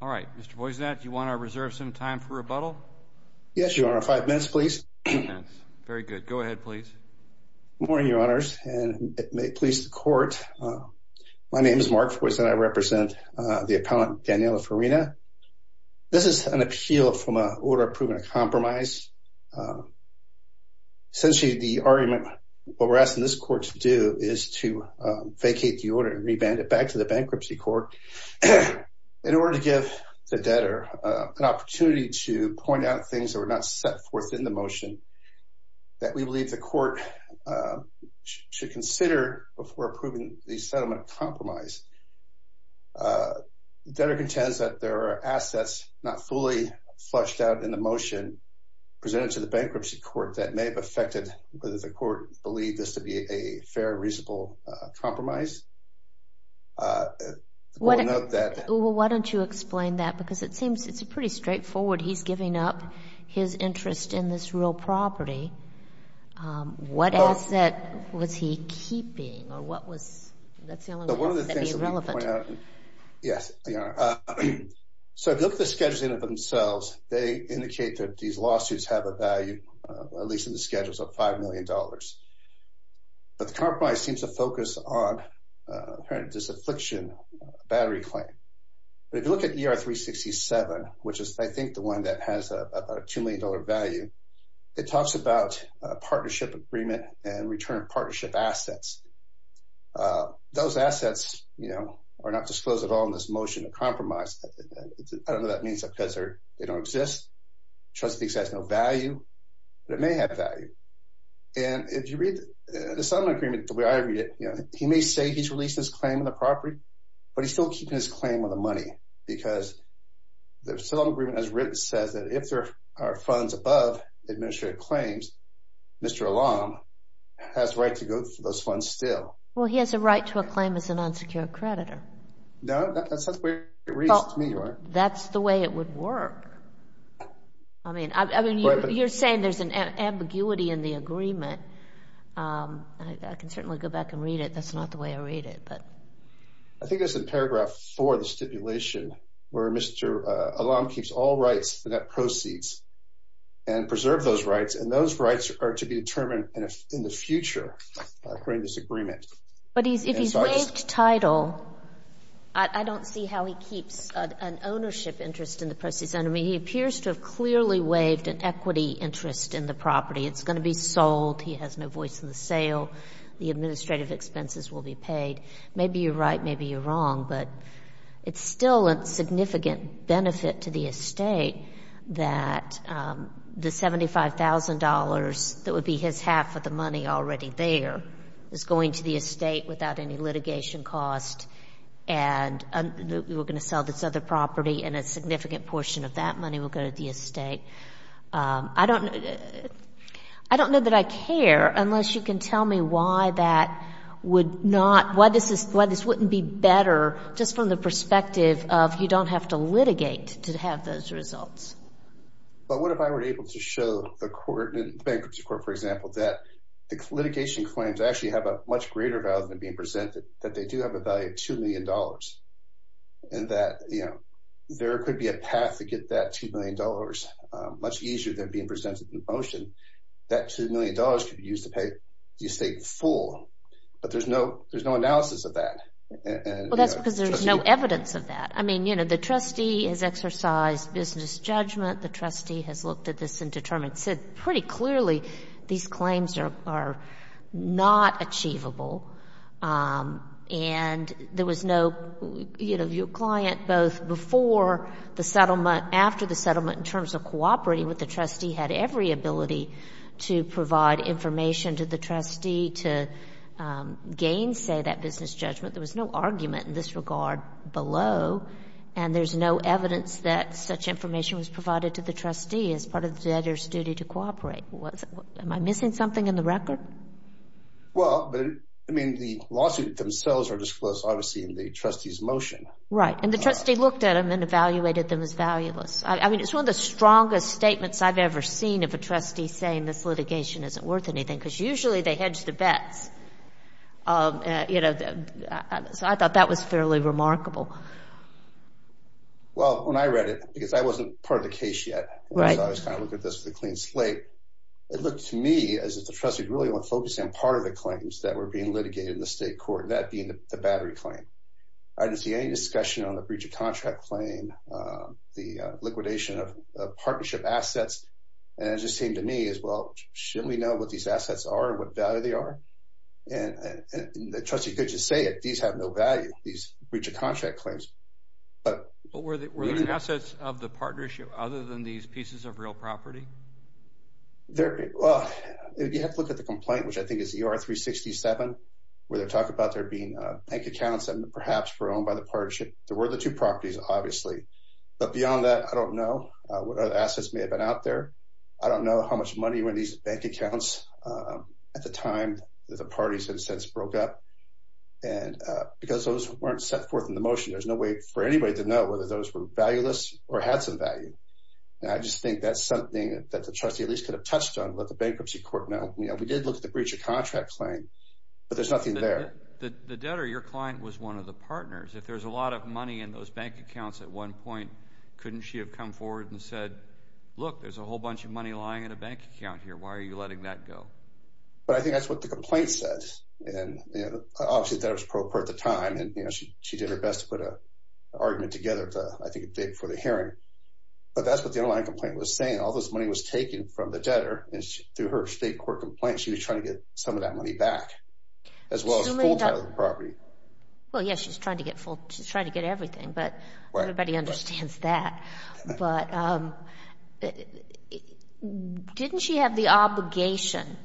All right, Mr. Boisnet, do you want to reserve some time for rebuttal? Yes, Your Honor. Five minutes, please. Five minutes. Very good. Go ahead, please. Good morning, Your Honors, and may it please the Court. My name is Mark Boisnet. I represent the appellant Daniella Farina. This is an appeal from an order proving a compromise. Essentially, the argument what we're asking this Court to do is to vacate the order and reband it back to the bankruptcy court in order to give the debtor an opportunity to point out things that were not set forth in the motion that we believe the court should consider before approving the settlement compromise. The debtor contends that there are assets not fully flushed out in the motion presented to the bankruptcy court that may have affected whether the court believed this to be a fair, reasonable compromise. Why don't you explain that, because it seems it's pretty straightforward. He's giving up his interest in this real property. What asset was he keeping, or what was – that's the only one that would be relevant. Yes, Your Honor. So if you look at the schedules in and of themselves, they indicate that these lawsuits have a value, at least in the schedules, of $5 million. But the compromise seems to focus on, apparently, this affliction battery claim. But if you look at ER 367, which is, I think, the one that has a $2 million value, it talks about a partnership agreement and return of partnership assets. Those assets are not disclosed at all in this motion of compromise. I don't know what that means, because they don't exist. The trustee has no value, but it may have value. And if you read the settlement agreement the way I read it, he may say he's released his claim on the property, but he's still keeping his claim on the money because the settlement agreement as written says that if there are funds above administrative claims, Mr. Elam has the right to go for those funds still. Well, he has a right to a claim as an unsecured creditor. No, that's not the way it reads to me. Well, that's the way it would work. I mean, you're saying there's an ambiguity in the agreement. I can certainly go back and read it. That's not the way I read it. I think it's in paragraph 4 of the stipulation where Mr. Elam keeps all rights to net proceeds and preserves those rights, and those rights are to be determined in the future by agreeing this agreement. But if he's waived title, I don't see how he keeps an ownership interest in the proceeds. I mean, he appears to have clearly waived an equity interest in the property. It's going to be sold. He has no voice in the sale. The administrative expenses will be paid. Maybe you're right. Maybe you're wrong. But it's still a significant benefit to the estate that the $75,000 that would be his half of the money already there is going to the estate without any litigation cost, and we're going to sell this other property, and a significant portion of that money will go to the estate. I don't know that I care unless you can tell me why that would not, why this wouldn't be better just from the perspective of you don't have to litigate to have those results. But what if I were able to show the court, the bankruptcy court, for example, that the litigation claims actually have a much greater value than being presented, that they do have a value of $2 million, and that there could be a path to get that $2 million, much easier than being presented in motion. That $2 million could be used to pay the estate full, but there's no analysis of that. Well, that's because there's no evidence of that. I mean, you know, the trustee has exercised business judgment. The trustee has looked at this and determined, said pretty clearly these claims are not achievable. And there was no, you know, your client both before the settlement, after the settlement in terms of cooperating with the trustee, had every ability to provide information to the trustee to gainsay that business judgment. There was no argument in this regard below, and there's no evidence that such information was provided to the trustee as part of the debtor's duty to cooperate. Am I missing something in the record? Well, I mean, the lawsuit themselves are disclosed, obviously, in the trustee's motion. Right, and the trustee looked at them and evaluated them as valueless. I mean, it's one of the strongest statements I've ever seen of a trustee saying this litigation isn't worth anything, because usually they hedge the bets. You know, so I thought that was fairly remarkable. Well, when I read it, because I wasn't part of the case yet, so I was kind of looking at this with a clean slate, it looked to me as if the trustee really was focusing on part of the claims that were being litigated in the state court, that being the battery claim. I didn't see any discussion on the breach of contract claim, the liquidation of partnership assets, and it just seemed to me as well, shouldn't we know what these assets are and what value they are? And the trustee could just say it, these have no value, these breach of contract claims. But were these assets of the partnership other than these pieces of real property? Well, you have to look at the complaint, which I think is ER-367, where they talk about there being bank accounts and perhaps were owned by the partnership. There were the two properties, obviously. But beyond that, I don't know what other assets may have been out there. I don't know how much money were in these bank accounts at the time that the parties, in a sense, broke up. And because those weren't set forth in the motion, there's no way for anybody to know whether those were valueless or had some value. And I just think that's something that the trustee at least could have touched on with the bankruptcy court. Now, we did look at the breach of contract claim, but there's nothing there. The debtor, your client, was one of the partners. If there's a lot of money in those bank accounts at one point, couldn't she have come forward and said, look, there's a whole bunch of money lying in a bank account here. Why are you letting that go? But I think that's what the complaint said. And obviously, the debtor was pro per at the time, and she did her best to put an argument together, I think, for the hearing. But that's what the underlying complaint was saying. All this money was taken from the debtor, and through her state court complaint, Well, yes, she's trying to get everything, but everybody understands that. But didn't she have the obligation,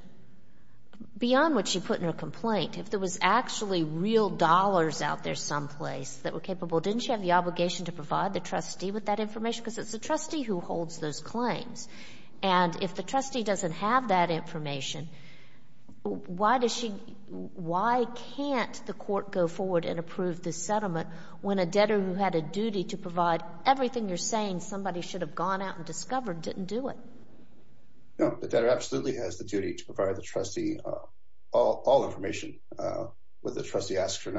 beyond what she put in her complaint, if there was actually real dollars out there someplace that were capable, didn't she have the obligation to provide the trustee with that information? Because it's the trustee who holds those claims. And if the trustee doesn't have that information, why can't the court go forward and approve the settlement when a debtor who had a duty to provide everything you're saying somebody should have gone out and discovered didn't do it? No, the debtor absolutely has the duty to provide the trustee all information, whether the trustee asks or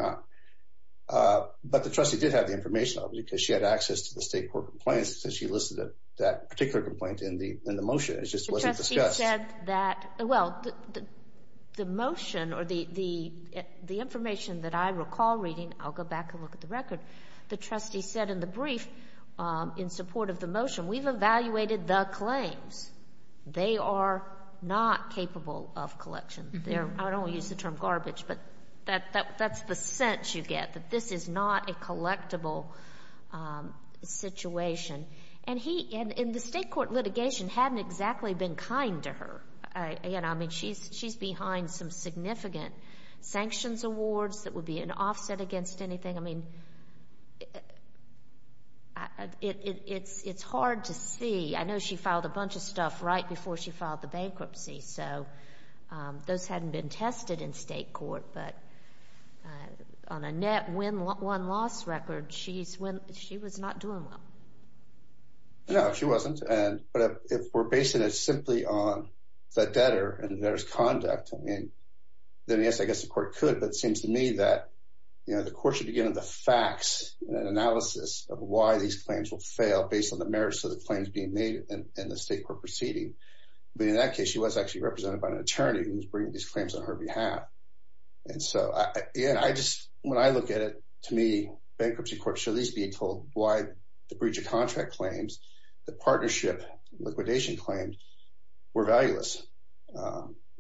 not. But the trustee did have the information, obviously, because she had access to the state court complaints, and she listed that particular complaint in the motion. It just wasn't discussed. The trustee said that, well, the motion or the information that I recall reading, I'll go back and look at the record. The trustee said in the brief, in support of the motion, we've evaluated the claims. They are not capable of collection. I don't want to use the term garbage, but that's the sense you get, that this is not a collectible situation. And the state court litigation hadn't exactly been kind to her. I mean, she's behind some significant sanctions awards that would be an offset against anything. I mean, it's hard to see. I know she filed a bunch of stuff right before she filed the bankruptcy, so those hadn't been tested in state court. But on a net win-loss record, she was not doing well. No, she wasn't. But if we're basing it simply on the debtor and the debtor's conduct, then, yes, I guess the court could. But it seems to me that the court should be given the facts and analysis of why these claims will fail, based on the merits of the claims being made in the state court proceeding. But in that case, she was actually represented by an attorney who was bringing these claims on her behalf. And so, you know, when I look at it, to me, bankruptcy courts should at least be told why the breach of contract claims, the partnership liquidation claims, were valueless.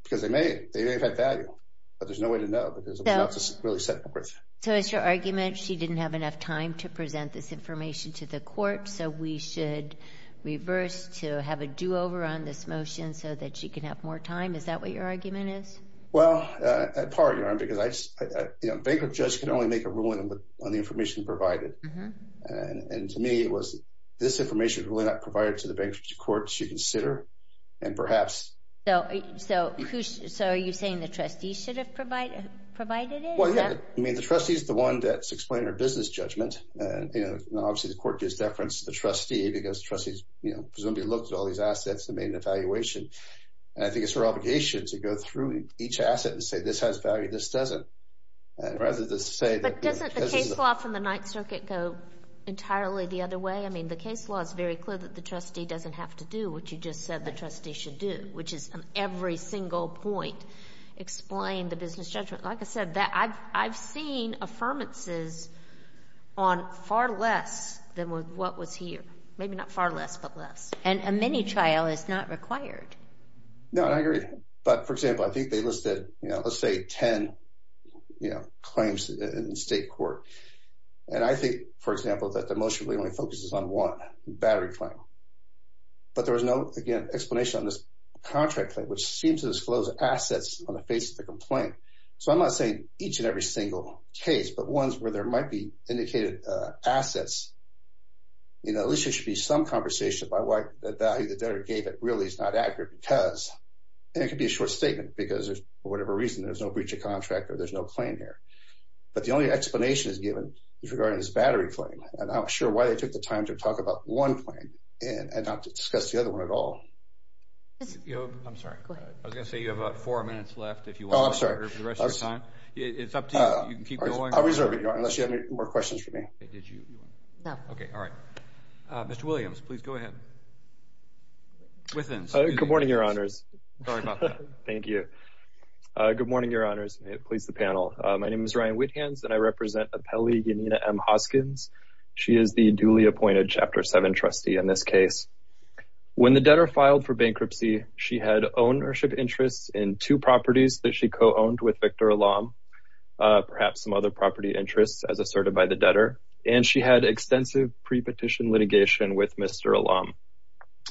Because they may have had value, but there's no way to know because it's not really set forth. So it's your argument she didn't have enough time to present this information to the court, so we should reverse to have a do-over on this motion so that she can have more time? Is that what your argument is? Well, part of it, because a bankrupt judge can only make a ruling on the information provided. And to me, it was this information was really not provided to the bankruptcy court to consider, and perhaps. So are you saying the trustee should have provided it? Well, yeah. I mean, the trustee is the one that's explaining her business judgment. And, you know, obviously the court gives deference to the trustee because the trustee's, you know, presumably looked at all these assets and made an evaluation. And I think it's her obligation to go through each asset and say, this has value, this doesn't. And rather than say that, you know. But doesn't the case law from the Ninth Circuit go entirely the other way? I mean, the case law is very clear that the trustee doesn't have to do what you just said the trustee should do, which is on every single point explain the business judgment. Like I said, I've seen affirmances on far less than what was here, maybe not far less, but less. And a mini trial is not required. No, and I agree. But, for example, I think they listed, you know, let's say 10, you know, claims in state court. And I think, for example, that the motion really only focuses on one battery claim. But there was no, again, explanation on this contract claim, which seems to disclose assets on the face of the complaint. So I'm not saying each and every single case, but ones where there might be indicated assets. You know, at least there should be some conversation about why the value the debtor gave it really is not accurate because, and it could be a short statement because there's, for whatever reason, there's no breach of contract or there's no claim here. But the only explanation is given is regarding this battery claim. And I'm not sure why they took the time to talk about one claim and not discuss the other one at all. I'm sorry. Go ahead. I was going to say you have about four minutes left, if you want. Oh, I'm sorry. It's up to you. You can keep going. I'll reserve it, unless you have more questions for me. Did you? No. Okay. All right. Mr. Williams, please go ahead. Good morning, Your Honors. Sorry about that. Thank you. Good morning, Your Honors. May it please the panel. My name is Ryan Witthans, and I represent Appellee Yanina M. Hoskins. She is the duly appointed Chapter 7 trustee in this case. When the debtor filed for bankruptcy, she had ownership interests in two properties that she co-owned with Victor Alam, perhaps some other property interests as asserted by the debtor, and she had extensive pre-petition litigation with Mr. Alam.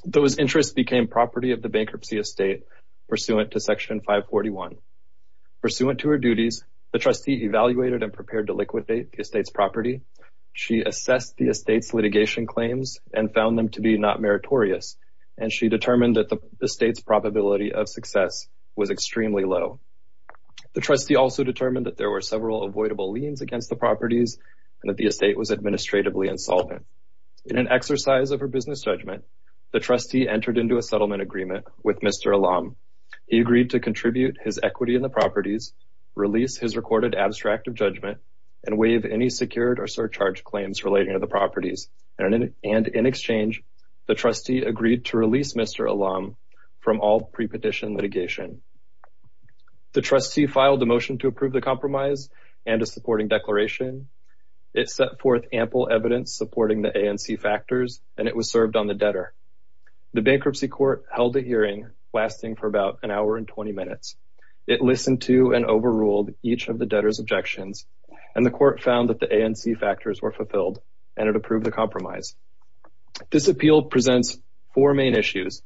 Those interests became property of the bankruptcy estate pursuant to Section 541. Pursuant to her duties, the trustee evaluated and prepared to liquidate the estate's property. She assessed the estate's litigation claims and found them to be not meritorious, and she determined that the estate's probability of success was extremely low. The trustee also determined that there were several avoidable liens against the properties and that the estate was administratively insolvent. In an exercise of her business judgment, the trustee entered into a settlement agreement with Mr. Alam. He agreed to contribute his equity in the properties, release his recorded abstract of judgment, and waive any secured or surcharge claims relating to the properties. And in exchange, the trustee agreed to release Mr. Alam from all pre-petition litigation. The trustee filed a motion to approve the compromise and a supporting declaration. It set forth ample evidence supporting the ANC factors, and it was served on the debtor. The bankruptcy court held a hearing lasting for about an hour and 20 minutes. It listened to and overruled each of the debtor's objections, and the court found that the ANC factors were fulfilled, and it approved the compromise. This appeal presents four main issues.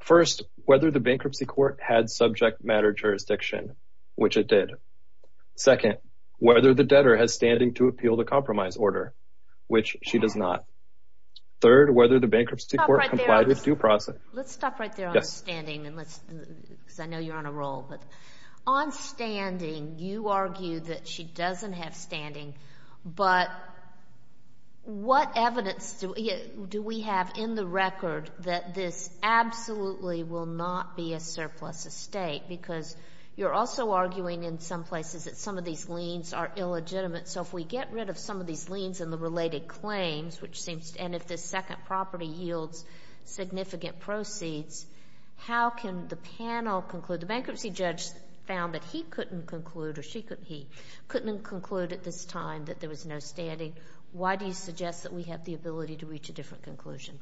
First, whether the bankruptcy court had subject matter jurisdiction, which it did. Second, whether the debtor has standing to appeal the compromise order, which she does not. Third, whether the bankruptcy court complied with due process. Let's stop right there on standing, because I know you're on a roll. On standing, you argue that she doesn't have standing, but what evidence do we have in the record that this absolutely will not be a surplus estate? Because you're also arguing in some places that some of these liens are illegitimate. So if we get rid of some of these liens and the related claims, and if this second property yields significant proceeds, how can the panel conclude? The bankruptcy judge found that he couldn't conclude, or she couldn't, he couldn't conclude at this time that there was no standing. Why do you suggest that we have the ability to reach a different conclusion?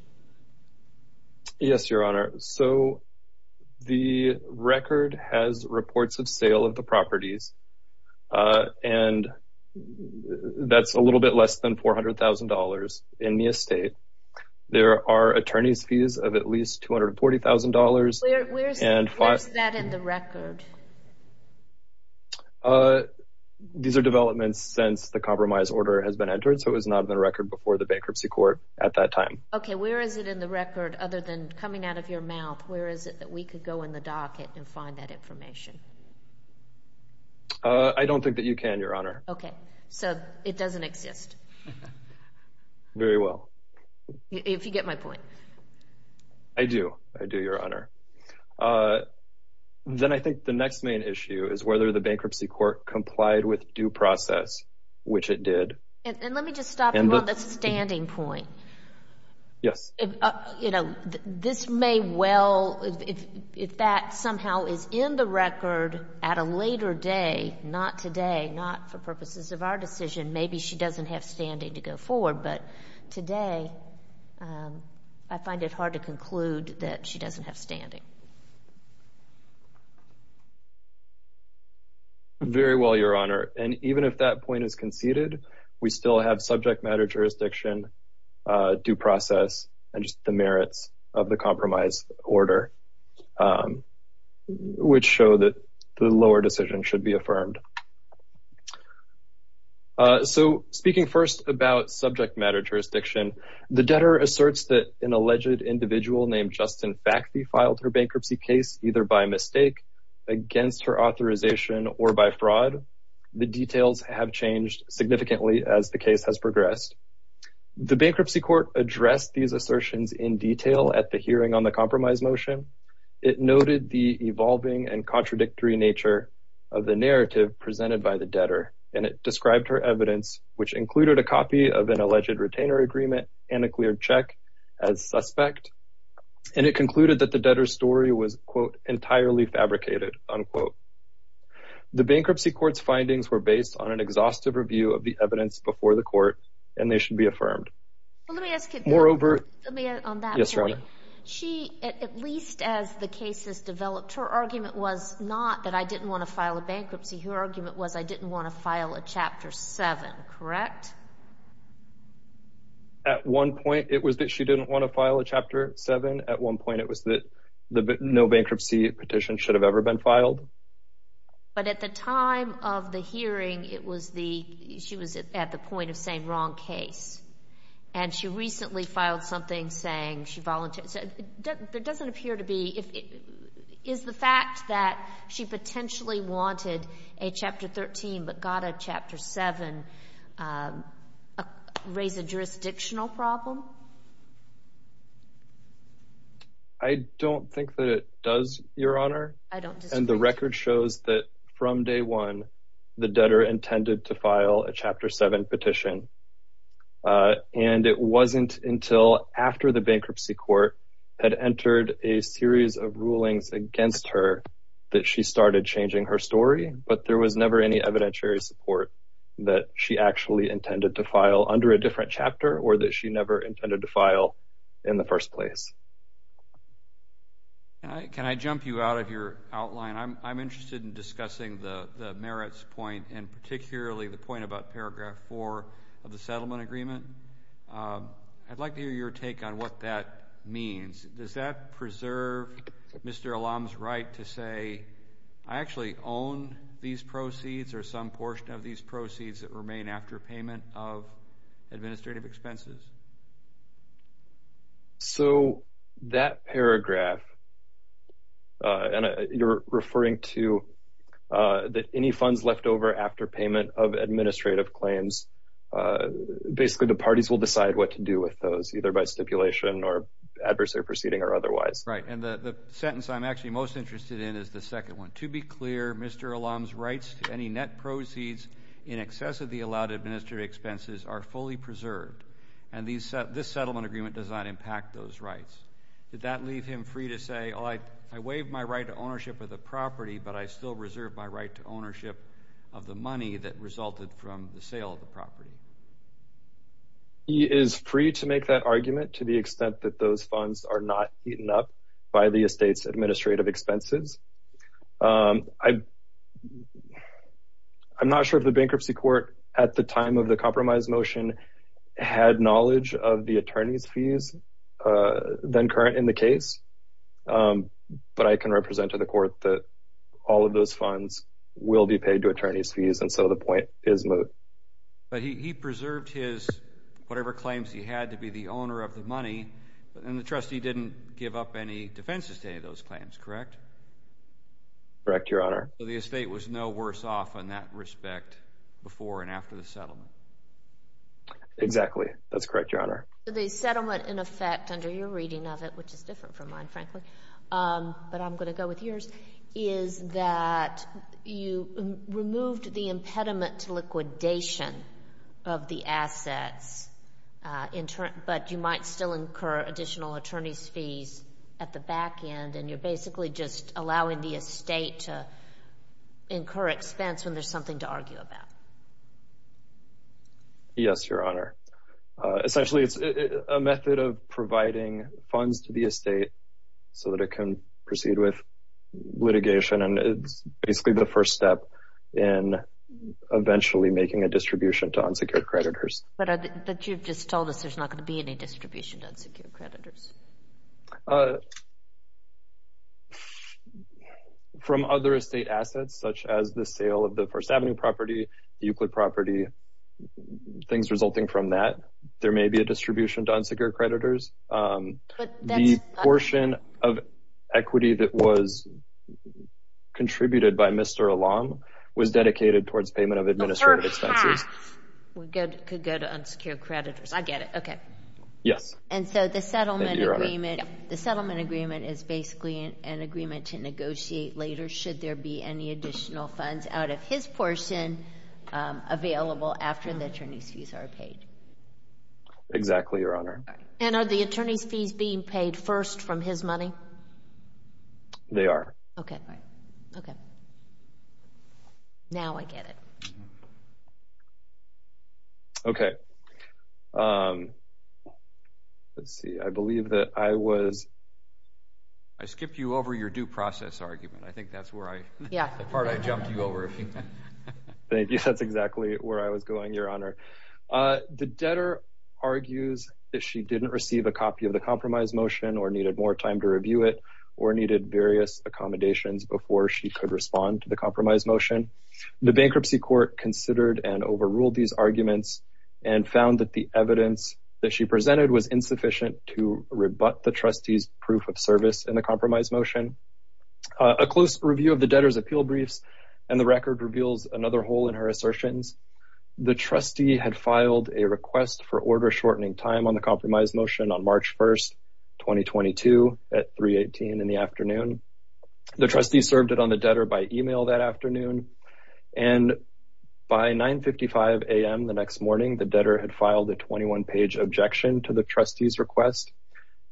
Yes, Your Honor. So the record has reports of sale of the properties, and that's a little bit less than $400,000 in the estate. There are attorney's fees of at least $240,000. Where is that in the record? These are developments since the compromise order has been entered, so it was not in the record before the bankruptcy court at that time. Okay, where is it in the record, other than coming out of your mouth, where is it that we could go in the docket and find that information? I don't think that you can, Your Honor. Okay, so it doesn't exist. Very well. If you get my point. I do, I do, Your Honor. Then I think the next main issue is whether the bankruptcy court complied with due process, which it did. And let me just stop you on the standing point. Yes. You know, this may well, if that somehow is in the record at a later day, not today, not for purposes of our decision, maybe she doesn't have standing to go forward, but today I find it hard to conclude that she doesn't have standing. Very well, Your Honor. And even if that point is conceded, we still have subject matter jurisdiction, due process, and just the merits of the compromise order, which show that the lower decision should be affirmed. So speaking first about subject matter jurisdiction, the debtor asserts that an alleged individual named Justin Backey filed her bankruptcy case, either by mistake, against her authorization, or by fraud. The details have changed significantly as the case has progressed. The bankruptcy court addressed these assertions in detail at the hearing on the compromise motion. It noted the evolving and contradictory nature of the narrative presented by the debtor, and it described her evidence, which included a copy of an alleged retainer agreement and a cleared check as suspect. And it concluded that the debtor's story was, quote, entirely fabricated, unquote. The bankruptcy court's findings were based on an exhaustive review of the evidence before the court, and they should be affirmed. Moreover, yes, Your Honor. She, at least as the case has developed, her argument was not that I didn't want to file a bankruptcy. Her argument was I didn't want to file a Chapter 7, correct? At one point it was that she didn't want to file a Chapter 7. At one point it was that no bankruptcy petition should have ever been filed. But at the time of the hearing, it was the, she was at the point of saying wrong case. And she recently filed something saying she volunteered. There doesn't appear to be, is the fact that she potentially wanted a Chapter 13 but got a Chapter 7 raise a jurisdictional problem? I don't think that it does, Your Honor. I don't disagree. And the record shows that from day one the debtor intended to file a Chapter 7 petition. And it wasn't until after the bankruptcy court had entered a series of rulings against her that she started changing her story. But there was never any evidentiary support that she actually intended to file under a different chapter or that she never intended to file in the first place. Can I jump you out of your outline? I'm interested in discussing the merits point and particularly the point about Paragraph 4 of the settlement agreement. I'd like to hear your take on what that means. Does that preserve Mr. Alam's right to say I actually own these proceeds or some portion of these proceeds that remain after payment of administrative expenses? So that paragraph, and you're referring to any funds left over after payment of administrative claims, basically the parties will decide what to do with those, either by stipulation or adversary proceeding or otherwise. Right. And the sentence I'm actually most interested in is the second one. To be clear, Mr. Alam's rights to any net proceeds in excess of the allowed administrative expenses are fully preserved. And this settlement agreement does not impact those rights. Did that leave him free to say, oh, I waived my right to ownership of the property, but I still reserve my right to ownership of the money that resulted from the sale of the property? He is free to make that argument to the extent that those funds are not eaten up by the estate's administrative expenses. I'm not sure if the bankruptcy court at the time of the compromise motion had knowledge of the attorney's fees then current in the case, but I can represent to the court that all of those funds will be paid to attorney's fees, and so the point is moved. But he preserved his whatever claims he had to be the owner of the money, and the trustee didn't give up any defenses to any of those claims, correct? Correct, Your Honor. So the estate was no worse off in that respect before and after the settlement? Exactly. That's correct, Your Honor. The settlement, in effect, under your reading of it, which is different from mine, frankly, but I'm going to go with yours, is that you removed the impediment to liquidation of the assets, but you might still incur additional attorney's fees at the back end, and you're basically just allowing the estate to incur expense when there's something to argue about. Yes, Your Honor. Essentially, it's a method of providing funds to the estate so that it can proceed with litigation, and it's basically the first step in eventually making a distribution to unsecured creditors. But you've just told us there's not going to be any distribution to unsecured creditors. From other estate assets, such as the sale of the First Avenue property, Euclid property, things resulting from that, there may be a distribution to unsecured creditors. The portion of equity that was contributed by Mr. Elam was dedicated towards payment of administrative expenses. Over half could go to unsecured creditors. I get it. Okay. Yes. And so the settlement agreement is basically an agreement to negotiate later should there be any additional funds out of his portion available after the attorney's fees are paid. Exactly, Your Honor. And are the attorney's fees being paid first from his money? They are. Okay. Now I get it. Okay. Let's see. I believe that I was... I skipped you over your due process argument. I think that's where I... Yeah. That's the part I jumped you over. Thank you. That's exactly where I was going, Your Honor. The debtor argues that she didn't receive a copy of the compromise motion or needed more time to review it or needed various accommodations before she could respond to the compromise motion. The bankruptcy court considered and overruled these arguments and found that the evidence that she presented was insufficient to rebut the trustee's proof of service in the compromise motion. A close review of the debtor's appeal briefs and the record reveals another hole in her assertions. The trustee had filed a request for order shortening time on the compromise motion on March 1st, 2022 at 318 in the afternoon. The trustee served it on the debtor by email that afternoon, and by 955 a.m. the next morning, the debtor had filed a 21-page objection to the trustee's request.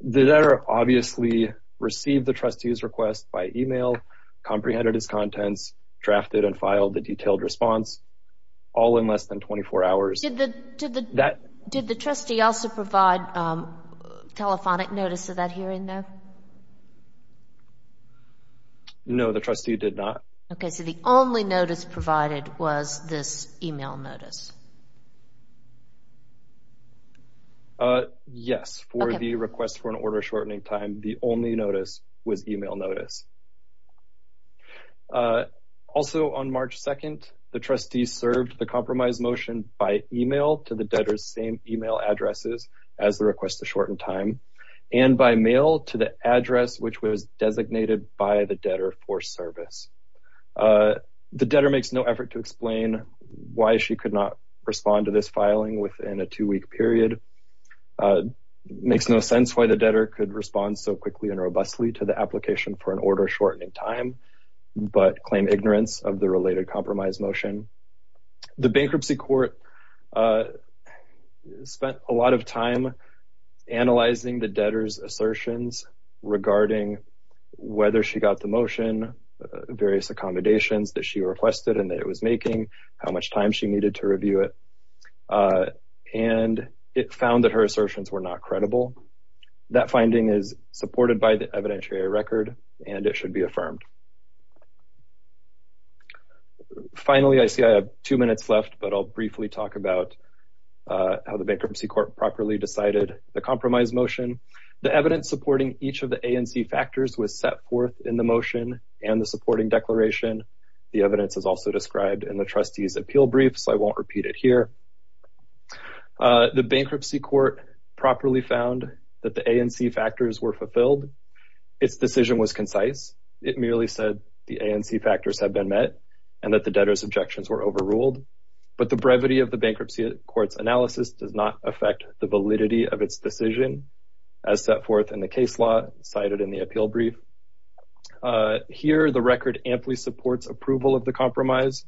The debtor obviously received the trustee's request by email, comprehended its contents, drafted and filed the detailed response, all in less than 24 hours. Did the trustee also provide telephonic notice of that hearing, though? No, the trustee did not. Okay, so the only notice provided was this email notice. Yes, for the request for an order shortening time, the only notice was email notice. Also on March 2nd, the trustee served the compromise motion by email to the debtor's same email addresses as the request to shorten time and by mail to the address which was designated by the debtor for service. The debtor makes no effort to explain why she could not respond to this filing within a two-week period, makes no sense why the debtor could respond so quickly and robustly to the application for an order shortening time, but claimed ignorance of the related compromise motion. The bankruptcy court spent a lot of time analyzing the debtor's assertions regarding whether she got the motion, various accommodations that she requested and that it was making, how much time she needed to review it, and it found that her assertions were not credible. That finding is supported by the evidentiary record and it should be affirmed. Finally, I see I have two minutes left, but I'll briefly talk about how the bankruptcy court properly decided the compromise motion. The evidence supporting each of the A&C factors was set forth in the motion and the supporting declaration. The evidence is also described in the trustee's appeal brief, so I won't repeat it here. The bankruptcy court properly found that the A&C factors were fulfilled. Its decision was concise. It merely said the A&C factors had been met and that the debtor's objections were overruled, but the brevity of the bankruptcy court's analysis does not affect the validity of its decision, as set forth in the case law cited in the appeal brief. Here, the record amply supports approval of the compromise,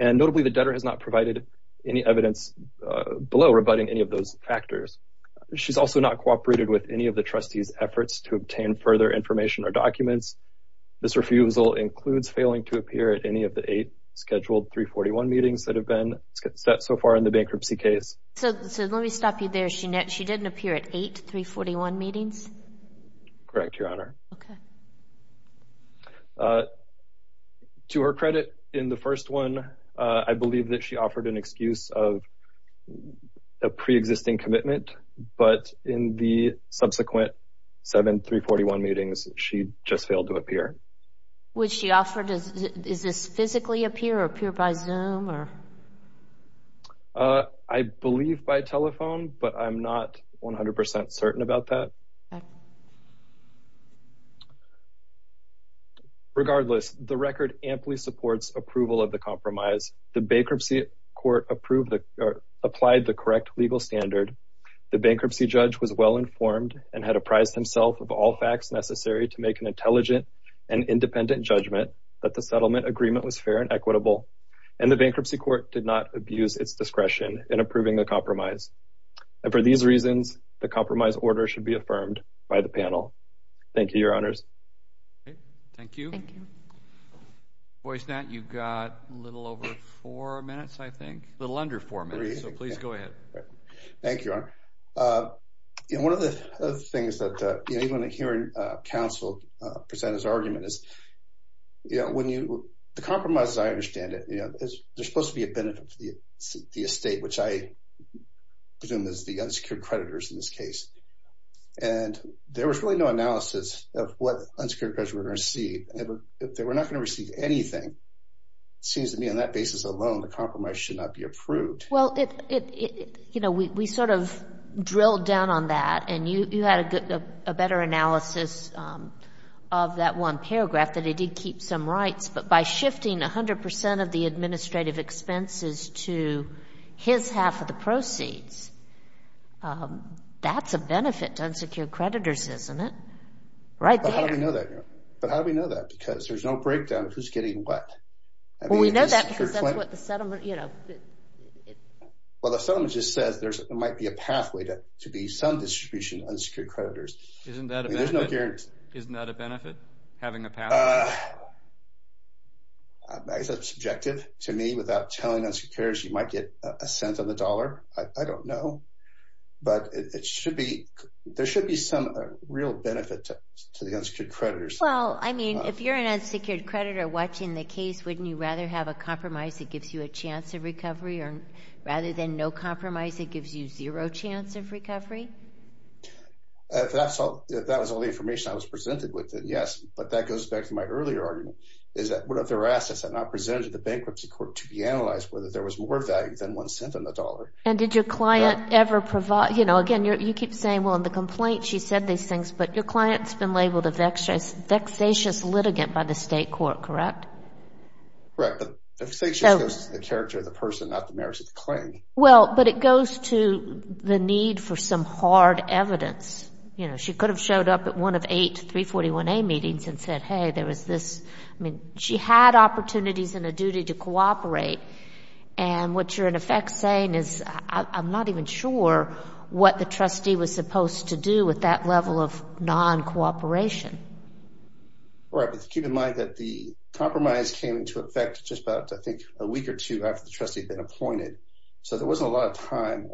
and notably the debtor has not provided any evidence below rebutting any of those factors. She's also not cooperated with any of the trustee's efforts to obtain further information or documents. This refusal includes failing to appear at any of the eight scheduled 341 meetings that have been set so far in the bankruptcy case. So let me stop you there, Jeanette. She didn't appear at eight 341 meetings? Correct, Your Honor. Okay. To her credit, in the first one, I believe that she offered an excuse of a preexisting commitment, but in the subsequent seven 341 meetings, she just failed to appear. Would she offer to physically appear or appear by Zoom? I believe by telephone, but I'm not 100% certain about that. Okay. Regardless, the record amply supports approval of the compromise. The bankruptcy court approved or applied the correct legal standard. The bankruptcy judge was well-informed and had apprised himself of all facts necessary to make an intelligent and independent judgment that the settlement agreement was fair and equitable, and the bankruptcy court did not abuse its discretion in approving the compromise. And for these reasons, the compromise order should be affirmed by the panel. Thank you, Your Honors. Okay. Thank you. Thank you. Boisnat, you've got a little over four minutes, I think. A little under four minutes, so please go ahead. Thank you, Your Honor. One of the things that even hearing counsel present his argument is, you know, the compromise, as I understand it, there's supposed to be a benefit for the estate, which I presume is the unsecured creditors in this case. And there was really no analysis of what unsecured creditors were going to receive. If they were not going to receive anything, it seems to me on that basis alone, the compromise should not be approved. Well, you know, we sort of drilled down on that, and you had a better analysis of that one paragraph that it did keep some rights, but by shifting 100% of the administrative expenses to his half of the proceeds, that's a benefit to unsecured creditors, isn't it? Right there. But how do we know that, Your Honor? But how do we know that? Because there's no breakdown of who's getting what. Well, we know that because that's what the settlement, you know. Well, the settlement just says there might be a pathway to be some distribution to unsecured creditors. Isn't that a benefit? I mean, there's no guarantee. Isn't that a benefit, having a pathway? Is that subjective to me without telling unsecured creditors you might get a cent on the dollar? I don't know. But it should be – there should be some real benefit to the unsecured creditors. Well, I mean, if you're an unsecured creditor watching the case, wouldn't you rather have a compromise that gives you a chance of recovery rather than no compromise that gives you zero chance of recovery? If that was all the information I was presented with, then yes. But that goes back to my earlier argument, is that what if there were assets that are not presented to the bankruptcy court to be analyzed whether there was more value than one cent on the dollar. And did your client ever provide – you know, again, you keep saying, well, in the complaint she said these things, but your client's been labeled a vexatious litigant by the state court, correct? Correct. But vexatious goes to the character of the person, not the merits of the claim. Well, but it goes to the need for some hard evidence. You know, she could have showed up at one of eight 341A meetings and said, hey, there was this – I mean, she had opportunities and a duty to cooperate. And what you're, in effect, saying is I'm not even sure what the trustee was supposed to do with that level of non-cooperation. Right, but keep in mind that the compromise came into effect just about, I think, a week or two after the trustee had been appointed. So there wasn't a lot of time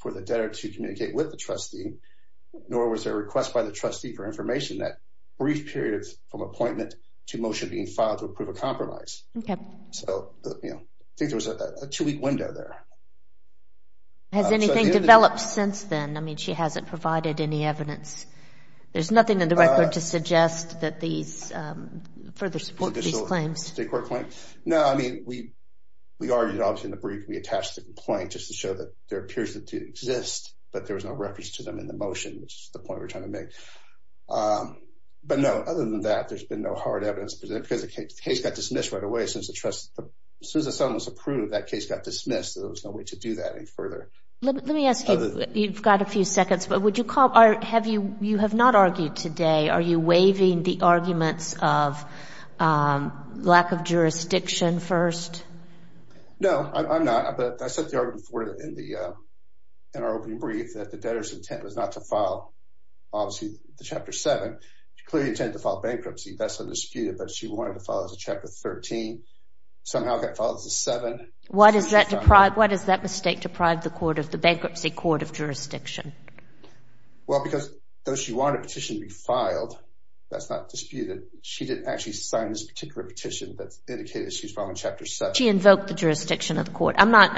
for the debtor to communicate with the trustee, nor was there a request by the trustee for information. That brief period from appointment to motion being filed to approve a compromise. Okay. So, you know, I think there was a two-week window there. Has anything developed since then? I mean, she hasn't provided any evidence. There's nothing in the record to suggest that these – further support these claims. State court claim? No, I mean, we are, obviously, in the brief. We attached the complaint just to show that there appears to exist, but there was no reference to them in the motion, which is the point we're trying to make. But, no, other than that, there's been no hard evidence presented because the case got dismissed right away. As soon as the settlement was approved, that case got dismissed. There was no way to do that any further. Let me ask you. You've got a few seconds, but would you call – you have not argued today. Are you waiving the arguments of lack of jurisdiction first? No, I'm not. I said the argument before in our opening brief that the debtor's intent was not to file, obviously, the Chapter 7. She clearly intended to file bankruptcy. That's undisputed, but she wanted to file as a Chapter 13. Somehow got filed as a 7. Why does that mistake deprive the bankruptcy court of jurisdiction? Well, because she wanted a petition to be filed. That's not disputed. She didn't actually sign this particular petition that indicated she was filing Chapter 7. She invoked the jurisdiction of the court. I'm not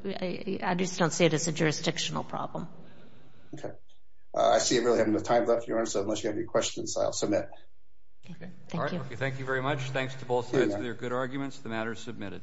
– I just don't see it as a jurisdictional problem. Okay. I see we don't have enough time left, Your Honor, so unless you have any questions, I'll submit. Thank you. Thank you very much. Thanks to both sides for their good arguments. The matter is submitted.